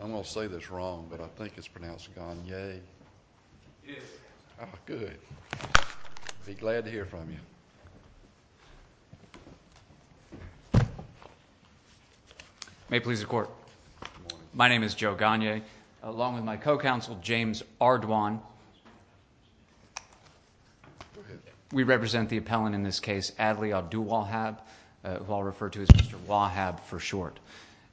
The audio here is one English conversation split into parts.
I'm going to say this wrong, but I think it's pronounced Gagne. It is. Good. I'll be glad to hear from you. May it please the Court. My name is Joe Gagne, along with my co-counsel, James Ardoin. Go ahead. We represent the appellant in this case, Adley Abdulwahab, who I'll refer to as Mr. Wahab for short.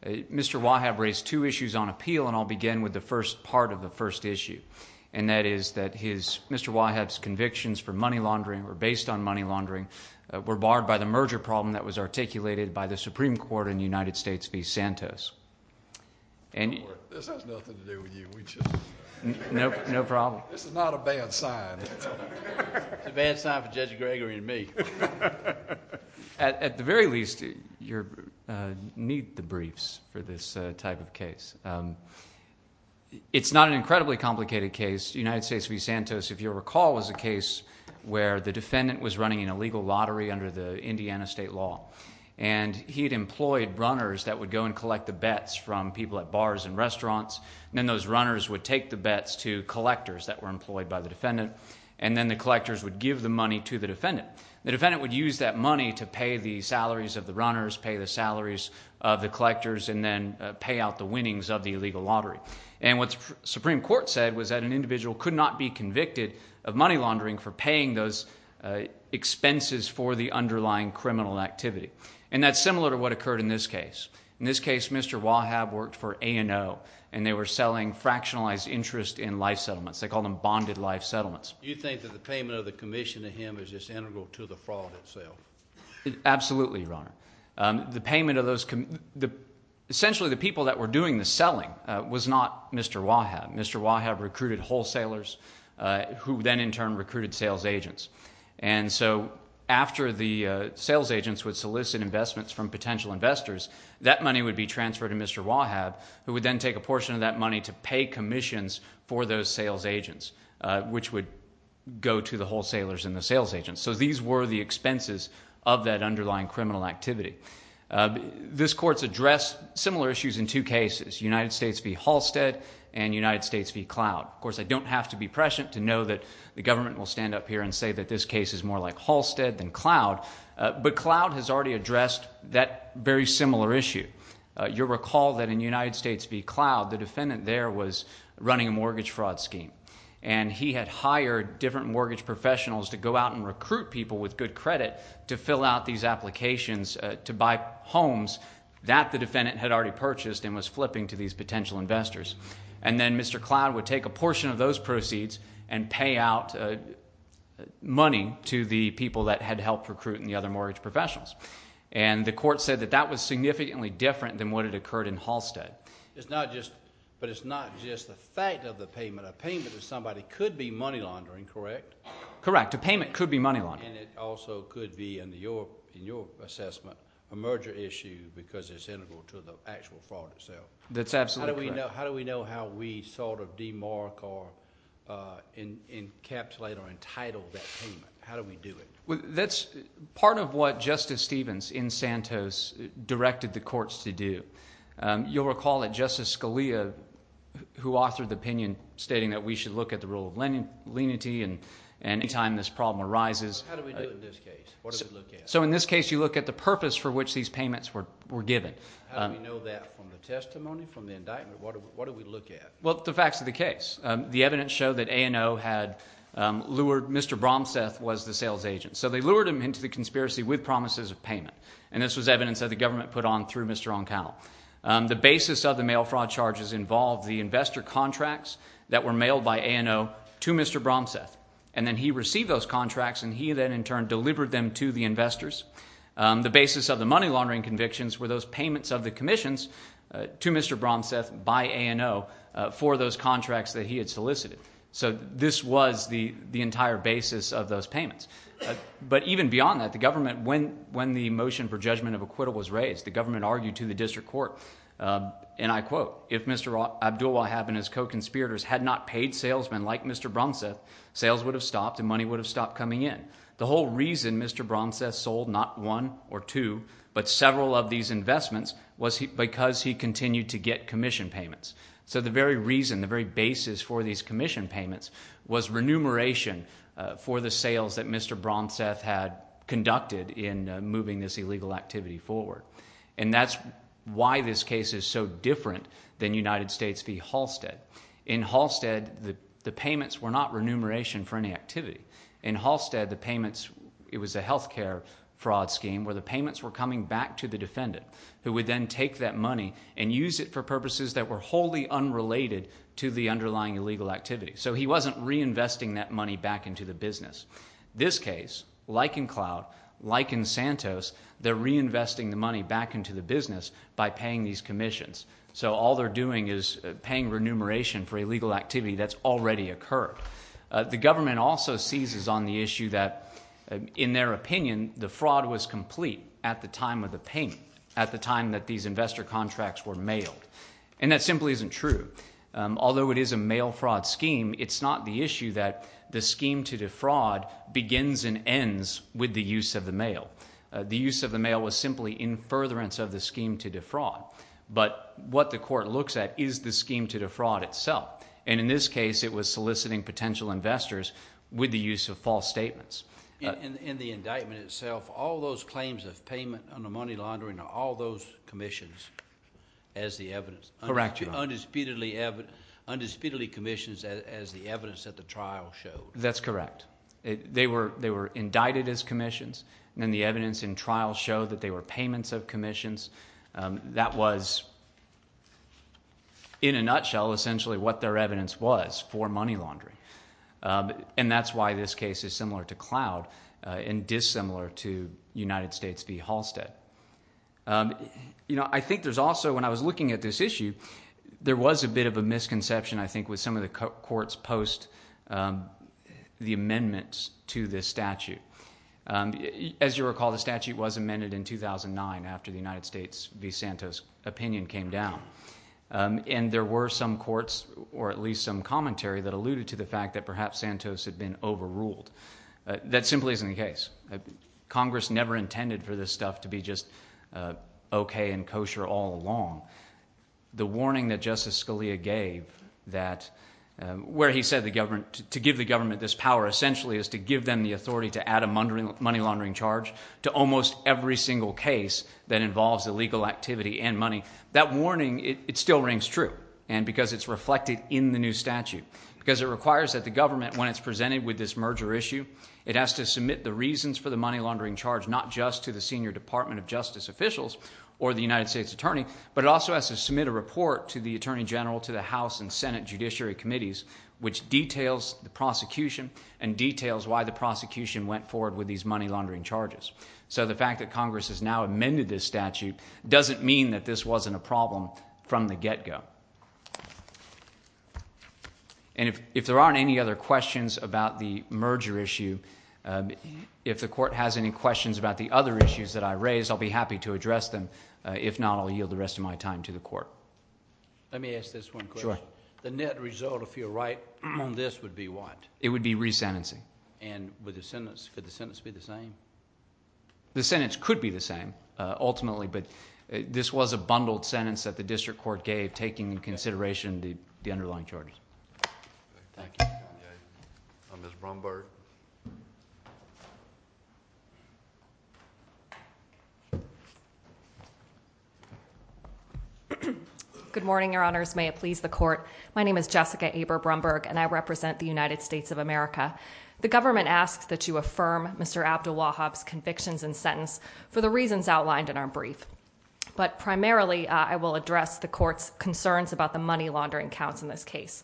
Mr. Wahab raised two issues on appeal, and I'll begin with the first part of the first issue, and that is that Mr. Wahab's convictions for money laundering or based on money laundering were barred by the merger problem that was articulated by the Supreme Court in the United States v. Santos. This has nothing to do with you. No problem. This is not a bad sign. It's a bad sign for Judge Gregory and me. At the very least, you need the briefs for this type of case. It's not an incredibly complicated case. The United States v. Santos, if you'll recall, was a case where the defendant was running an illegal lottery under the Indiana state law, and he had employed runners that would go and collect the bets from people at bars and restaurants, and then those runners would take the bets to collectors that were employed by the defendant, and then the collectors would give the money to the defendant. The defendant would use that money to pay the salaries of the runners, pay the salaries of the collectors, and then pay out the winnings of the illegal lottery. And what the Supreme Court said was that an individual could not be convicted of money laundering for paying those expenses for the underlying criminal activity, and that's similar to what occurred in this case. In this case, Mr. Wahab worked for A&O, and they were selling fractionalized interest in life settlements. They called them bonded life settlements. Do you think that the payment of the commission to him is just integral to the fraud itself? Absolutely, Your Honor. The payment of those – essentially the people that were doing the selling was not Mr. Wahab. Mr. Wahab recruited wholesalers who then in turn recruited sales agents. And so after the sales agents would solicit investments from potential investors, that money would be transferred to Mr. Wahab, who would then take a portion of that money to pay commissions for those sales agents, which would go to the wholesalers and the sales agents. So these were the expenses of that underlying criminal activity. This court's addressed similar issues in two cases, United States v. Halstead and United States v. Cloud. Of course, I don't have to be prescient to know that the government will stand up here and say that this case is more like Halstead than Cloud, but Cloud has already addressed that very similar issue. You'll recall that in United States v. Cloud, the defendant there was running a mortgage fraud scheme, and he had hired different mortgage professionals to go out and recruit people with good credit to fill out these applications to buy homes that the defendant had already purchased and was flipping to these potential investors. And then Mr. Cloud would take a portion of those proceeds and pay out money to the people that had helped recruit the other mortgage professionals. And the court said that that was significantly different than what had occurred in Halstead. But it's not just the fact of the payment. A payment to somebody could be money laundering, correct? Correct. A payment could be money laundering. And it also could be, in your assessment, a merger issue because it's integral to the actual fraud itself. That's absolutely correct. How do we know how we sort of demark or encapsulate or entitle that payment? How do we do it? That's part of what Justice Stevens in Santos directed the courts to do. You'll recall that Justice Scalia, who authored the opinion stating that we should look at the rule of lenity and any time this problem arises. How do we do it in this case? What do we look at? So in this case, you look at the purpose for which these payments were given. How do we know that from the testimony, from the indictment? What do we look at? Well, the facts of the case. The evidence showed that A&O had lured Mr. Bromseth was the sales agent. So they lured him into the conspiracy with promises of payment, and this was evidence that the government put on through Mr. O'Connell. The basis of the mail fraud charges involved the investor contracts that were mailed by A&O to Mr. Bromseth, and then he received those contracts, and he then in turn delivered them to the investors. The basis of the money laundering convictions were those payments of the commissions to Mr. Bromseth by A&O for those contracts that he had solicited. So this was the entire basis of those payments. But even beyond that, the government, when the motion for judgment of acquittal was raised, the government argued to the district court, and I quote, if Mr. Abdulwahab and his co-conspirators had not paid salesmen like Mr. Bromseth, sales would have stopped and money would have stopped coming in. The whole reason Mr. Bromseth sold not one or two but several of these investments was because he continued to get commission payments. So the very reason, the very basis for these commission payments was remuneration for the sales that Mr. Bromseth had conducted in moving this illegal activity forward. And that's why this case is so different than United States v. Halstead. In Halstead, the payments were not remuneration for any activity. In Halstead, the payments, it was a health care fraud scheme where the payments were coming back to the defendant who would then take that money and use it for purposes that were wholly unrelated to the underlying illegal activity. So he wasn't reinvesting that money back into the business. This case, like in Cloud, like in Santos, they're reinvesting the money back into the business by paying these commissions. So all they're doing is paying remuneration for illegal activity that's already occurred. The government also seizes on the issue that, in their opinion, the fraud was complete at the time of the payment, at the time that these investor contracts were mailed. And that simply isn't true. Although it is a mail fraud scheme, it's not the issue that the scheme to defraud begins and ends with the use of the mail. The use of the mail was simply in furtherance of the scheme to defraud. But what the court looks at is the scheme to defraud itself. And in this case it was soliciting potential investors with the use of false statements. In the indictment itself, all those claims of payment under money laundering are all those commissions as the evidence. Correct, Your Honor. Undisputedly commissions as the evidence that the trial showed. That's correct. They were indicted as commissions, and then the evidence in trial showed that they were payments of commissions. That was, in a nutshell, essentially what their evidence was for money laundering. And that's why this case is similar to Cloud and dissimilar to United States v. Halstead. I think there's also, when I was looking at this issue, there was a bit of a misconception I think with some of the courts post the amendments to this statute. As you recall, the statute was amended in 2009 after the United States v. Santos opinion came down. And there were some courts, or at least some commentary, that alluded to the fact that perhaps Santos had been overruled. That simply isn't the case. Congress never intended for this stuff to be just okay and kosher all along. The warning that Justice Scalia gave that where he said to give the government this power essentially is to give them the authority to add a money laundering charge to almost every single case that involves illegal activity and money. That warning, it still rings true, and because it's reflected in the new statute. Because it requires that the government, when it's presented with this merger issue, it has to submit the reasons for the money laundering charge not just to the senior Department of Justice officials or the United States Attorney, but it also has to submit a report to the Attorney General, to the House and Senate Judiciary Committees, which details the prosecution and details why the prosecution went forward with these money laundering charges. So the fact that Congress has now amended this statute doesn't mean that this wasn't a problem from the get-go. And if there aren't any other questions about the merger issue, if the court has any questions about the other issues that I raised, I'll be happy to address them. If not, I'll yield the rest of my time to the court. Let me ask this one question. Sure. The net result, if you're right on this, would be what? It would be resentencing. And with the sentence, could the sentence be the same? The sentence could be the same ultimately, but this was a bundled sentence that the district court gave, taking into consideration the underlying charges. Thank you. Ms. Brumberg. Good morning, Your Honors. May it please the court. My name is Jessica Abre Brumberg, and I represent the United States of America. The government asks that you affirm Mr. Abdul-Wahab's convictions and sentence for the reasons outlined in our brief. But primarily, I will address the court's concerns about the money laundering counts in this case.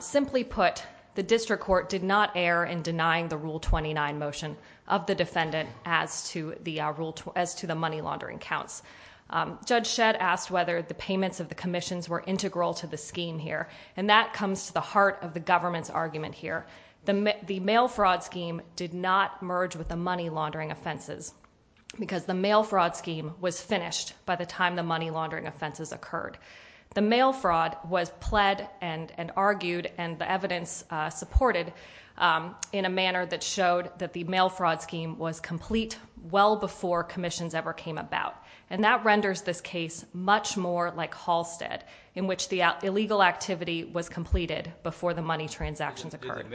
Simply put, the district court did not err in denying the Rule 29 motion of the defendant as to the money laundering counts. Judge Shedd asked whether the payments of the commissions were integral to the scheme here, and that comes to the heart of the government's argument here. The mail fraud scheme did not merge with the money laundering offenses because the mail fraud scheme was finished by the time the money laundering offenses occurred. The mail fraud was pled and argued, and the evidence supported, in a manner that showed that the mail fraud scheme was complete well before commissions ever came about. And that renders this case much more like Halstead, in which the illegal activity was completed before the money transactions occurred.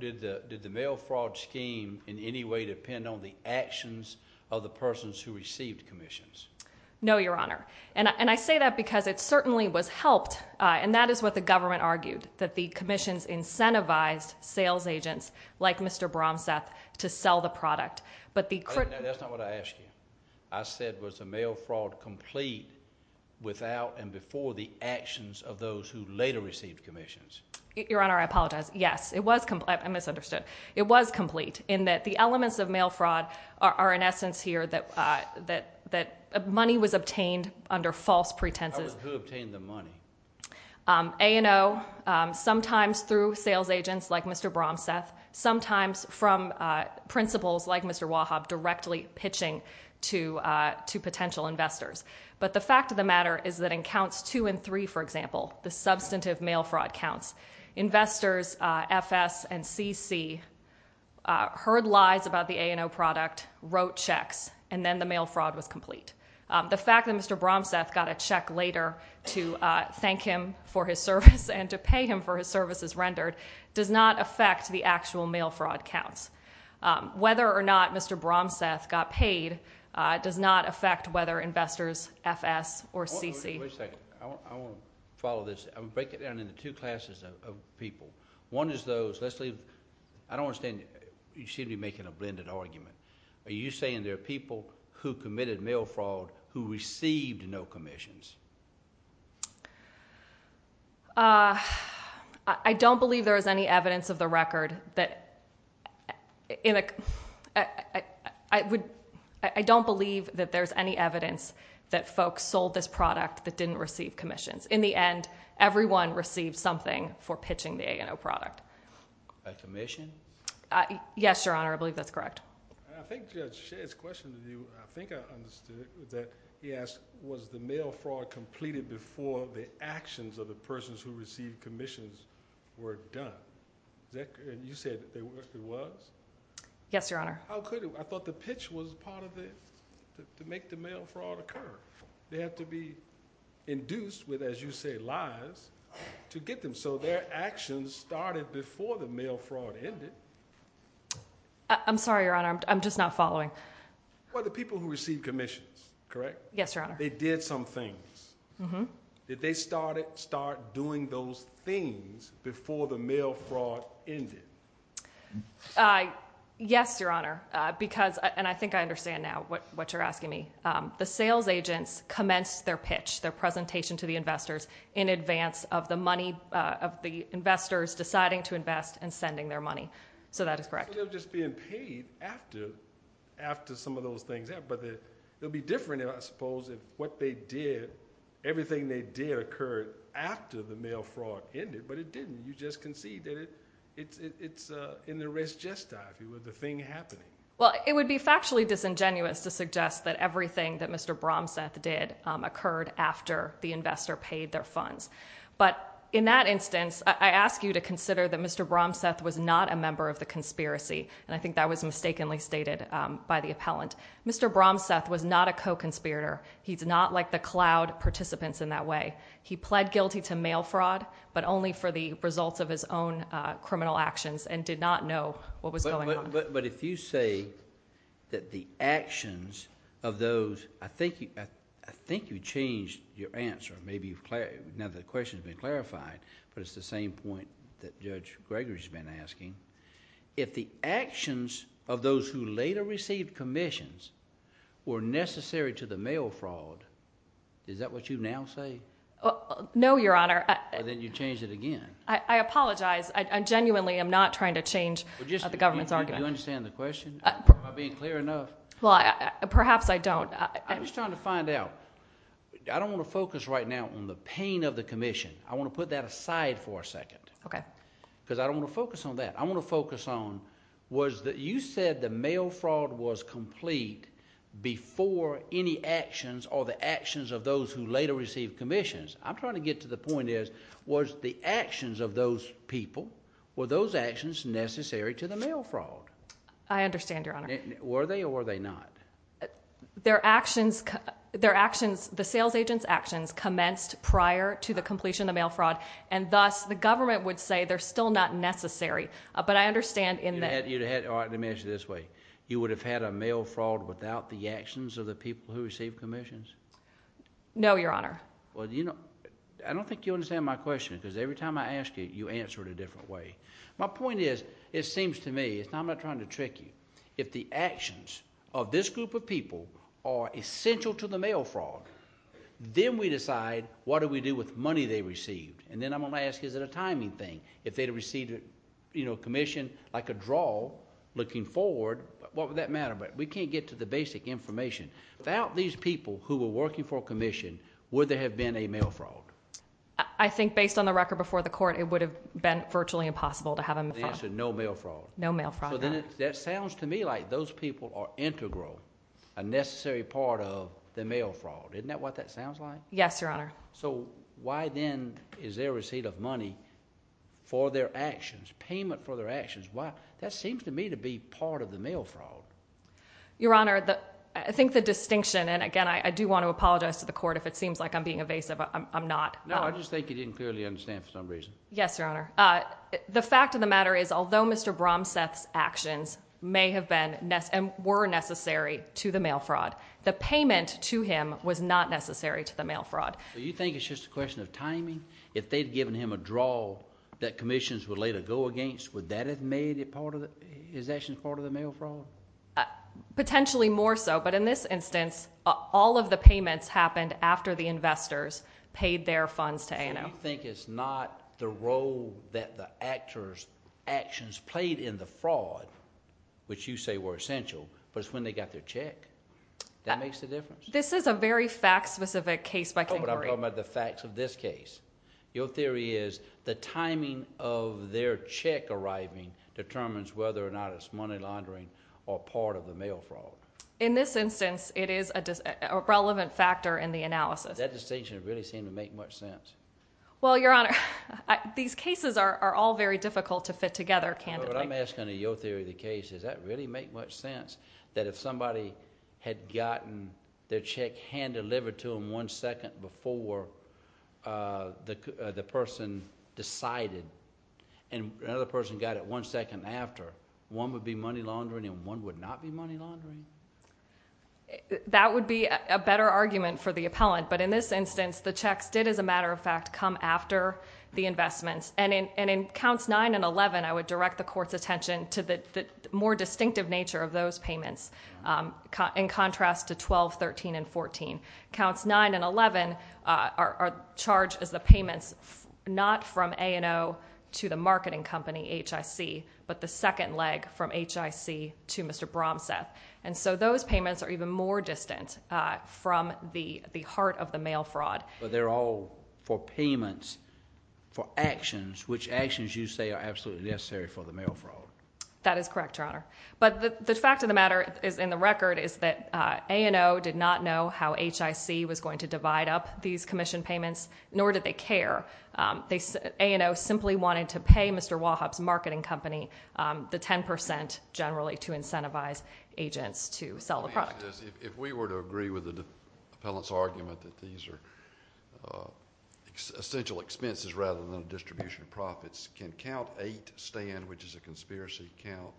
Did the mail fraud scheme in any way depend on the actions of the persons who received commissions? No, Your Honor. And I say that because it certainly was helped, and that is what the government argued, that the commissions incentivized sales agents, like Mr. Bromseth, to sell the product. But the critical... That's not what I asked you. I said, was the mail fraud complete without and before the actions of those who later received commissions? Your Honor, I apologize. Yes, it was complete. I misunderstood. It was complete in that the elements of mail fraud are in essence here that money was obtained under false pretenses. Who obtained the money? A&O, sometimes through sales agents like Mr. Bromseth, sometimes from principals like Mr. Wahab directly pitching to potential investors. But the fact of the matter is that in counts two and three, for example, the substantive mail fraud counts, investors F.S. and C.C. heard lies about the A&O product, wrote checks, and then the mail fraud was complete. The fact that Mr. Bromseth got a check later to thank him for his service and to pay him for his services rendered does not affect the actual mail fraud counts. Whether or not Mr. Bromseth got paid does not affect whether investors F.S. or C.C. Wait a second. I want to follow this. I'm going to break it down into two classes of people. One is those, Leslie, I don't understand. You seem to be making a blended argument. Are you saying there are people who committed mail fraud who received no commissions? I don't believe there is any evidence of the record that... I don't believe that there's any evidence that folks sold this product that didn't receive commissions. In the end, everyone received something for pitching the A&O product. A commission? Yes, Your Honor. I believe that's correct. I think Judge Shea's question to you, I think I understood it, was that he asked was the mail fraud completed before the actions of the persons who received commissions were done? You said it was? Yes, Your Honor. How could it? I thought the pitch was part of it to make the mail fraud occur. They have to be induced with, as you say, lies to get them. So their actions started before the mail fraud ended. I'm sorry, Your Honor. I'm just not following. Well, the people who received commissions, correct? Yes, Your Honor. They did some things. Did they start doing those things before the mail fraud ended? Yes, Your Honor. And I think I understand now what you're asking me. The sales agents commenced their pitch, their presentation to the investors, in advance of the money of the investors deciding to invest and sending their money. So that is correct. They were just being paid after some of those things happened. But it would be different, I suppose, if what they did, everything they did occurred after the mail fraud ended. But it didn't. You just conceded it. It's in the res gesta, if you will, the thing happening. Well, it would be factually disingenuous to suggest that everything that Mr. Bromseth did occurred after the investor paid their funds. But in that instance, I ask you to consider that Mr. Bromseth was not a member of the conspiracy. And I think that was mistakenly stated by the appellant. Mr. Bromseth was not a co-conspirator. He's not like the cloud participants in that way. He pled guilty to mail fraud, but only for the results of his own criminal actions and did not know what was going on. But if you say that the actions of those, I think you changed your answer. Now the question has been clarified, but it's the same point that Judge Gregory has been asking. If the actions of those who later received commissions were necessary to the mail fraud, is that what you now say? No, Your Honor. Then you changed it again. I apologize. I genuinely am not trying to change the government's argument. Do you understand the question? Am I being clear enough? Perhaps I don't. I'm just trying to find out. I don't want to focus right now on the pain of the commission. I want to put that aside for a second. Okay. Because I don't want to focus on that. I want to focus on was that you said the mail fraud was complete before any actions or the actions of those who later received commissions. I'm trying to get to the point is was the actions of those people, were those actions necessary to the mail fraud? I understand, Your Honor. Were they or were they not? Their actions, the sales agent's actions commenced prior to the completion of the mail fraud, and thus the government would say they're still not necessary. But I understand in the— All right, let me ask you this way. You would have had a mail fraud without the actions of the people who received commissions? No, Your Honor. Well, you know, I don't think you understand my question because every time I ask you, you answer it a different way. My point is it seems to me, and I'm not trying to trick you, if the actions of this group of people are essential to the mail fraud, then we decide what do we do with money they received. And then I'm going to ask, is it a timing thing? If they had received a commission like a draw looking forward, what would that matter? But we can't get to the basic information. Without these people who were working for a commission, would there have been a mail fraud? I think based on the record before the court, it would have been virtually impossible to have a mail fraud. The answer, no mail fraud. No mail fraud, no. So then that sounds to me like those people are integral, a necessary part of the mail fraud. Isn't that what that sounds like? Yes, Your Honor. So why then is there a receipt of money for their actions, payment for their actions? That seems to me to be part of the mail fraud. Your Honor, I think the distinction, and again, I do want to apologize to the court if it seems like I'm being evasive. I'm not. No, I just think you didn't clearly understand for some reason. Yes, Your Honor. The fact of the matter is, although Mr. Bromseth's actions may have been and were necessary to the mail fraud, the payment to him was not necessary to the mail fraud. So you think it's just a question of timing? If they'd given him a draw that commissions would later go against, would that have made his actions part of the mail fraud? Potentially more so. But in this instance, all of the payments happened after the investors paid their funds to ANO. So you think it's not the role that the actor's actions played in the fraud, which you say were essential, but it's when they got their check. That makes a difference? This is a very fact-specific case by category. Oh, but I'm talking about the facts of this case. Your theory is the timing of their check arriving determines whether or not it's money laundering or part of the mail fraud. In this instance, it is a relevant factor in the analysis. That distinction doesn't really seem to make much sense. Well, Your Honor, these cases are all very difficult to fit together, candidly. But I'm asking in your theory of the case, does that really make much sense? That if somebody had gotten their check hand-delivered to them one second before the person decided, and another person got it one second after, one would be money laundering and one would not be money laundering? That would be a better argument for the appellant. But in this instance, the checks did, as a matter of fact, come after the investments. And in Counts 9 and 11, I would direct the court's attention to the more distinctive nature of those payments in contrast to 12, 13, and 14. Counts 9 and 11 are charged as the payments not from A&O to the marketing company, HIC, but the second leg from HIC to Mr. Bromseth. And so those payments are even more distant from the heart of the mail fraud. But they're all for payments for actions, which actions you say are absolutely necessary for the mail fraud. That is correct, Your Honor. But the fact of the matter in the record is that A&O did not know how HIC was going to divide up these commission payments, nor did they care. A&O simply wanted to pay Mr. Wahup's marketing company the 10% generally to incentivize agents to sell the product. If we were to agree with the appellant's argument that these are essential expenses rather than a distribution of profits, can Count 8 stand, which is a conspiracy count?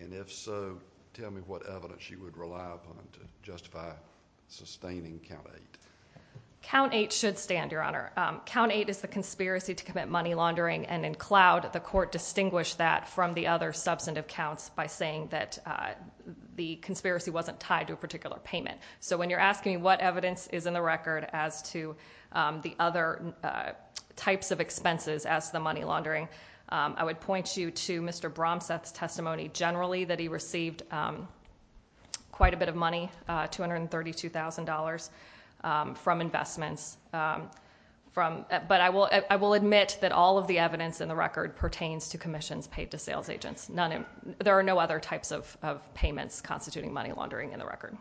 And if so, tell me what evidence you would rely upon to justify sustaining Count 8. Count 8 should stand, Your Honor. Count 8 is the conspiracy to commit money laundering. And in Cloud, the court distinguished that from the other substantive counts by saying that the conspiracy wasn't tied to a particular payment. So when you're asking me what evidence is in the record as to the other types of expenses as to the money laundering, I would point you to Mr. Bromseth's testimony generally that he received quite a bit of money, $232,000 from investments. But I will admit that all of the evidence in the record pertains to commissions paid to sales agents. There are no other types of payments constituting money laundering in the record.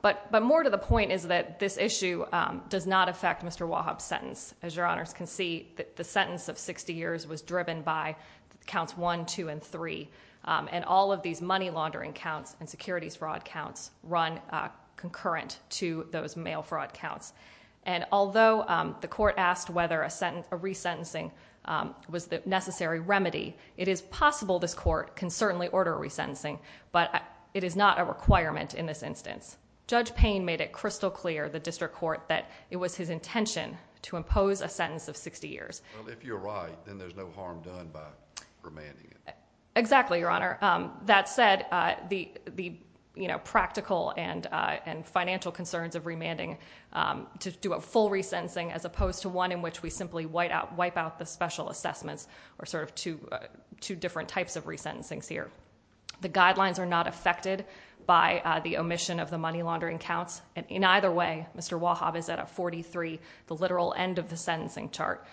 But more to the point is that this issue does not affect Mr. Wahup's sentence. As Your Honors can see, the sentence of 60 years was driven by Counts 1, 2, and 3. And all of these money laundering counts and securities fraud counts run concurrent to those mail fraud counts. And although the court asked whether a resentencing was the necessary remedy, it is possible this court can certainly order a resentencing. But it is not a requirement in this instance. Judge Payne made it crystal clear, the district court, that it was his intention to impose a sentence of 60 years. Well, if you're right, then there's no harm done by remanding it. Exactly, Your Honor. That said, the, you know, practical and financial concerns of remanding to do a full resentencing as opposed to one in which we simply wipe out the special assessments are sort of two different types of resentencings here. The guidelines are not affected by the omission of the money laundering counts. And in either way, Mr. Wahup is at a 43, the literal end of the sentencing chart.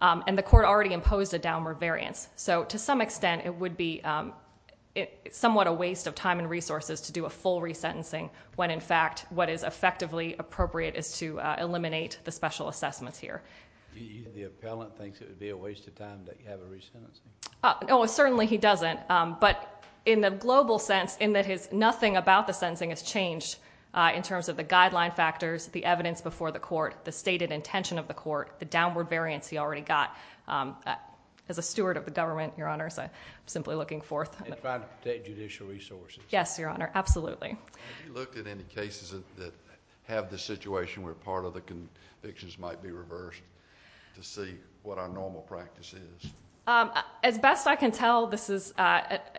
And the court already imposed a downward variance. So to some extent, it would be somewhat a waste of time and resources to do a full resentencing when, in fact, what is effectively appropriate is to eliminate the special assessments here. The appellant thinks it would be a waste of time to have a resentencing? Oh, certainly he doesn't. But in the global sense, in that nothing about the sentencing has changed in terms of the guideline factors, the evidence before the court, the stated intention of the court, the downward variance he already got. As a steward of the government, Your Honor, I'm simply looking forth. And trying to protect judicial resources. Yes, Your Honor, absolutely. Have you looked at any cases that have the situation where part of the convictions might be reversed to see what our normal practice is? As best I can tell, this is, I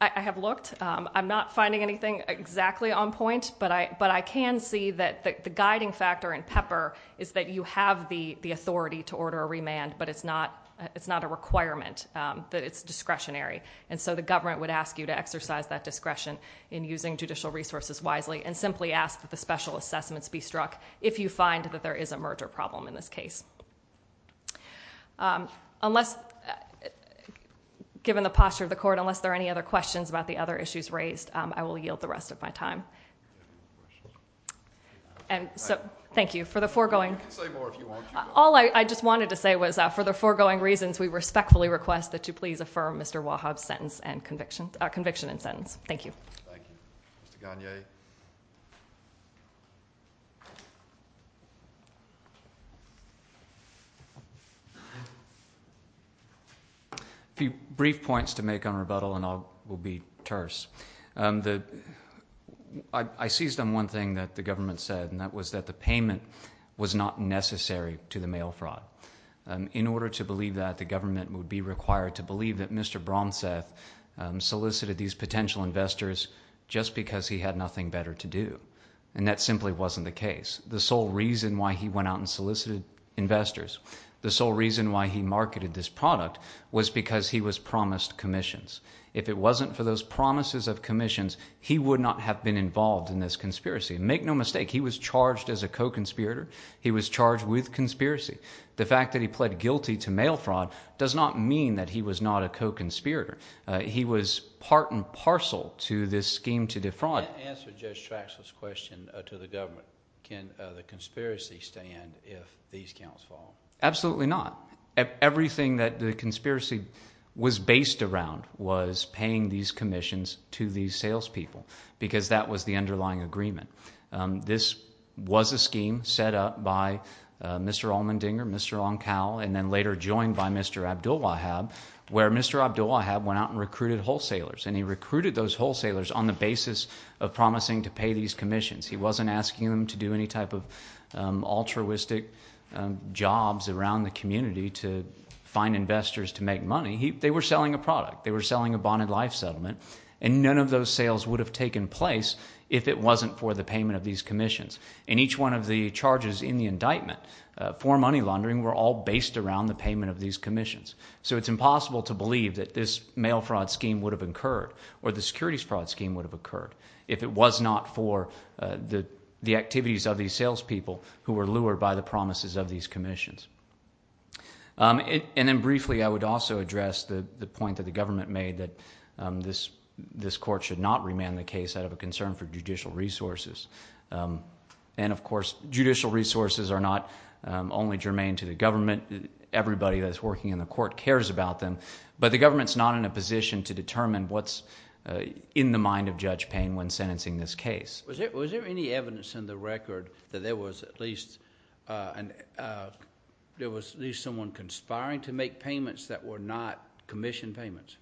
have looked. I'm not finding anything exactly on point. But I can see that the guiding factor in Pepper is that you have the authority to order a remand, but it's not a requirement, that it's discretionary. And so the government would ask you to exercise that discretion in using judicial resources wisely and simply ask that the special assessments be struck if you find that there is a merger problem in this case. Unless, given the posture of the court, unless there are any other questions about the other issues raised, I will yield the rest of my time. And so thank you for the foregoing. All I just wanted to say was for the foregoing reasons, we respectfully request that you please affirm Mr. Wahab's conviction and sentence. Thank you. Thank you. Mr. Gagne? Mr. Gagne? A few brief points to make on rebuttal, and I will be terse. I seized on one thing that the government said, and that was that the payment was not necessary to the mail fraud. In order to believe that, the government would be required to believe that Mr. Bromseth solicited these potential investors just because he had nothing better to do, and that simply wasn't the case. The sole reason why he went out and solicited investors, the sole reason why he marketed this product, was because he was promised commissions. If it wasn't for those promises of commissions, he would not have been involved in this conspiracy. Make no mistake, he was charged as a co-conspirator. He was charged with conspiracy. The fact that he pled guilty to mail fraud does not mean that he was not a co-conspirator. He was part and parcel to this scheme to defraud. Can you answer Judge Traxler's question to the government? Can the conspiracy stand if these counts fall? Absolutely not. Everything that the conspiracy was based around was paying these commissions to these salespeople because that was the underlying agreement. This was a scheme set up by Mr. Allmendinger, Mr. Oncal, and then later joined by Mr. Abdulwahab, where Mr. Abdulwahab went out and recruited wholesalers, and he recruited those wholesalers on the basis of promising to pay these commissions. He wasn't asking them to do any type of altruistic jobs around the community to find investors to make money. They were selling a product. They were selling a bonded life settlement, and none of those sales would have taken place if it wasn't for the payment of these commissions, and each one of the charges in the indictment for money laundering were all based around the payment of these commissions. So it's impossible to believe that this mail fraud scheme would have occurred or the securities fraud scheme would have occurred if it was not for the activities of these salespeople who were lured by the promises of these commissions. And then briefly I would also address the point that the government made that this court should not remand the case out of a concern for judicial resources. And, of course, judicial resources are not only germane to the government. Everybody that's working in the court cares about them, but the government's not in a position to determine what's in the mind of Judge Payne when sentencing this case. Was there any evidence in the record that there was at least someone conspiring to make payments that were not commission payments,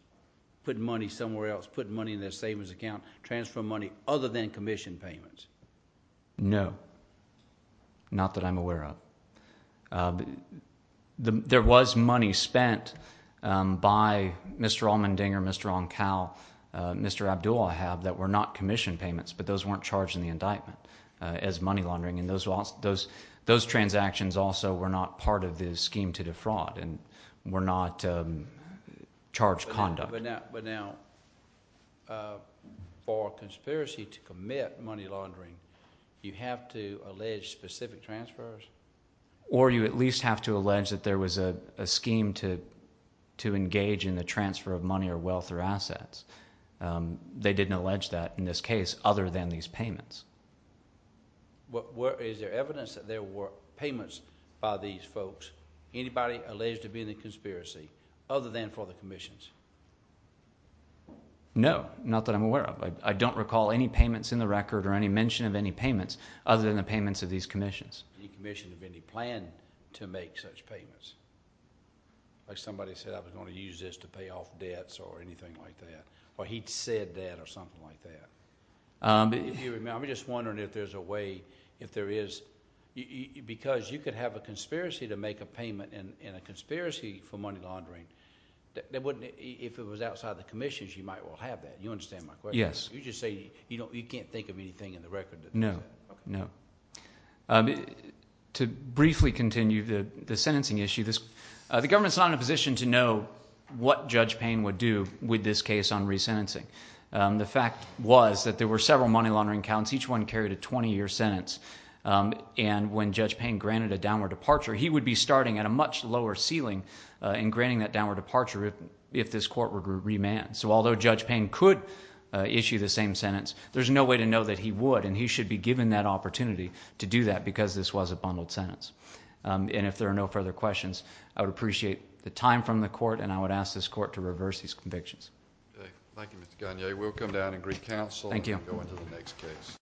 putting money somewhere else, putting money in their savings account, transferring money other than commission payments? No, not that I'm aware of. There was money spent by Mr. Allmendinger, Mr. Oncal, Mr. Abdulla that were not commission payments, but those weren't charged in the indictment as money laundering, and those transactions also were not part of the scheme to defraud and were not charged conduct. But now for a conspiracy to commit money laundering, you have to allege specific transfers? Or you at least have to allege that there was a scheme to engage in the transfer of money or wealth or assets. They didn't allege that in this case other than these payments. Is there evidence that there were payments by these folks, anybody alleged to be in the conspiracy other than for the commissions? No, not that I'm aware of. I don't recall any payments in the record or any mention of any payments other than the payments of these commissions. Any commission of any plan to make such payments? Like somebody said, I was going to use this to pay off debts or anything like that. Or he'd said that or something like that. I'm just wondering if there's a way, if there is, because you could have a conspiracy to make a payment in a conspiracy for money laundering. If it was outside the commissions, you might well have that. You understand my question? Yes. You just say you can't think of anything in the record. No, no. To briefly continue the sentencing issue, the government's not in a position to know what Judge Payne would do with this case on resentencing. The fact was that there were several money laundering counts. Each one carried a 20-year sentence. And when Judge Payne granted a downward departure, he would be starting at a much lower ceiling and granting that downward departure if this court were to remand. So although Judge Payne could issue the same sentence, there's no way to know that he would, and he should be given that opportunity to do that because this was a bundled sentence. And if there are no further questions, I would appreciate the time from the court, and I would ask this court to reverse these convictions. Thank you, Mr. Gagne. We'll come down and greet counsel. Thank you. We'll go into the next case.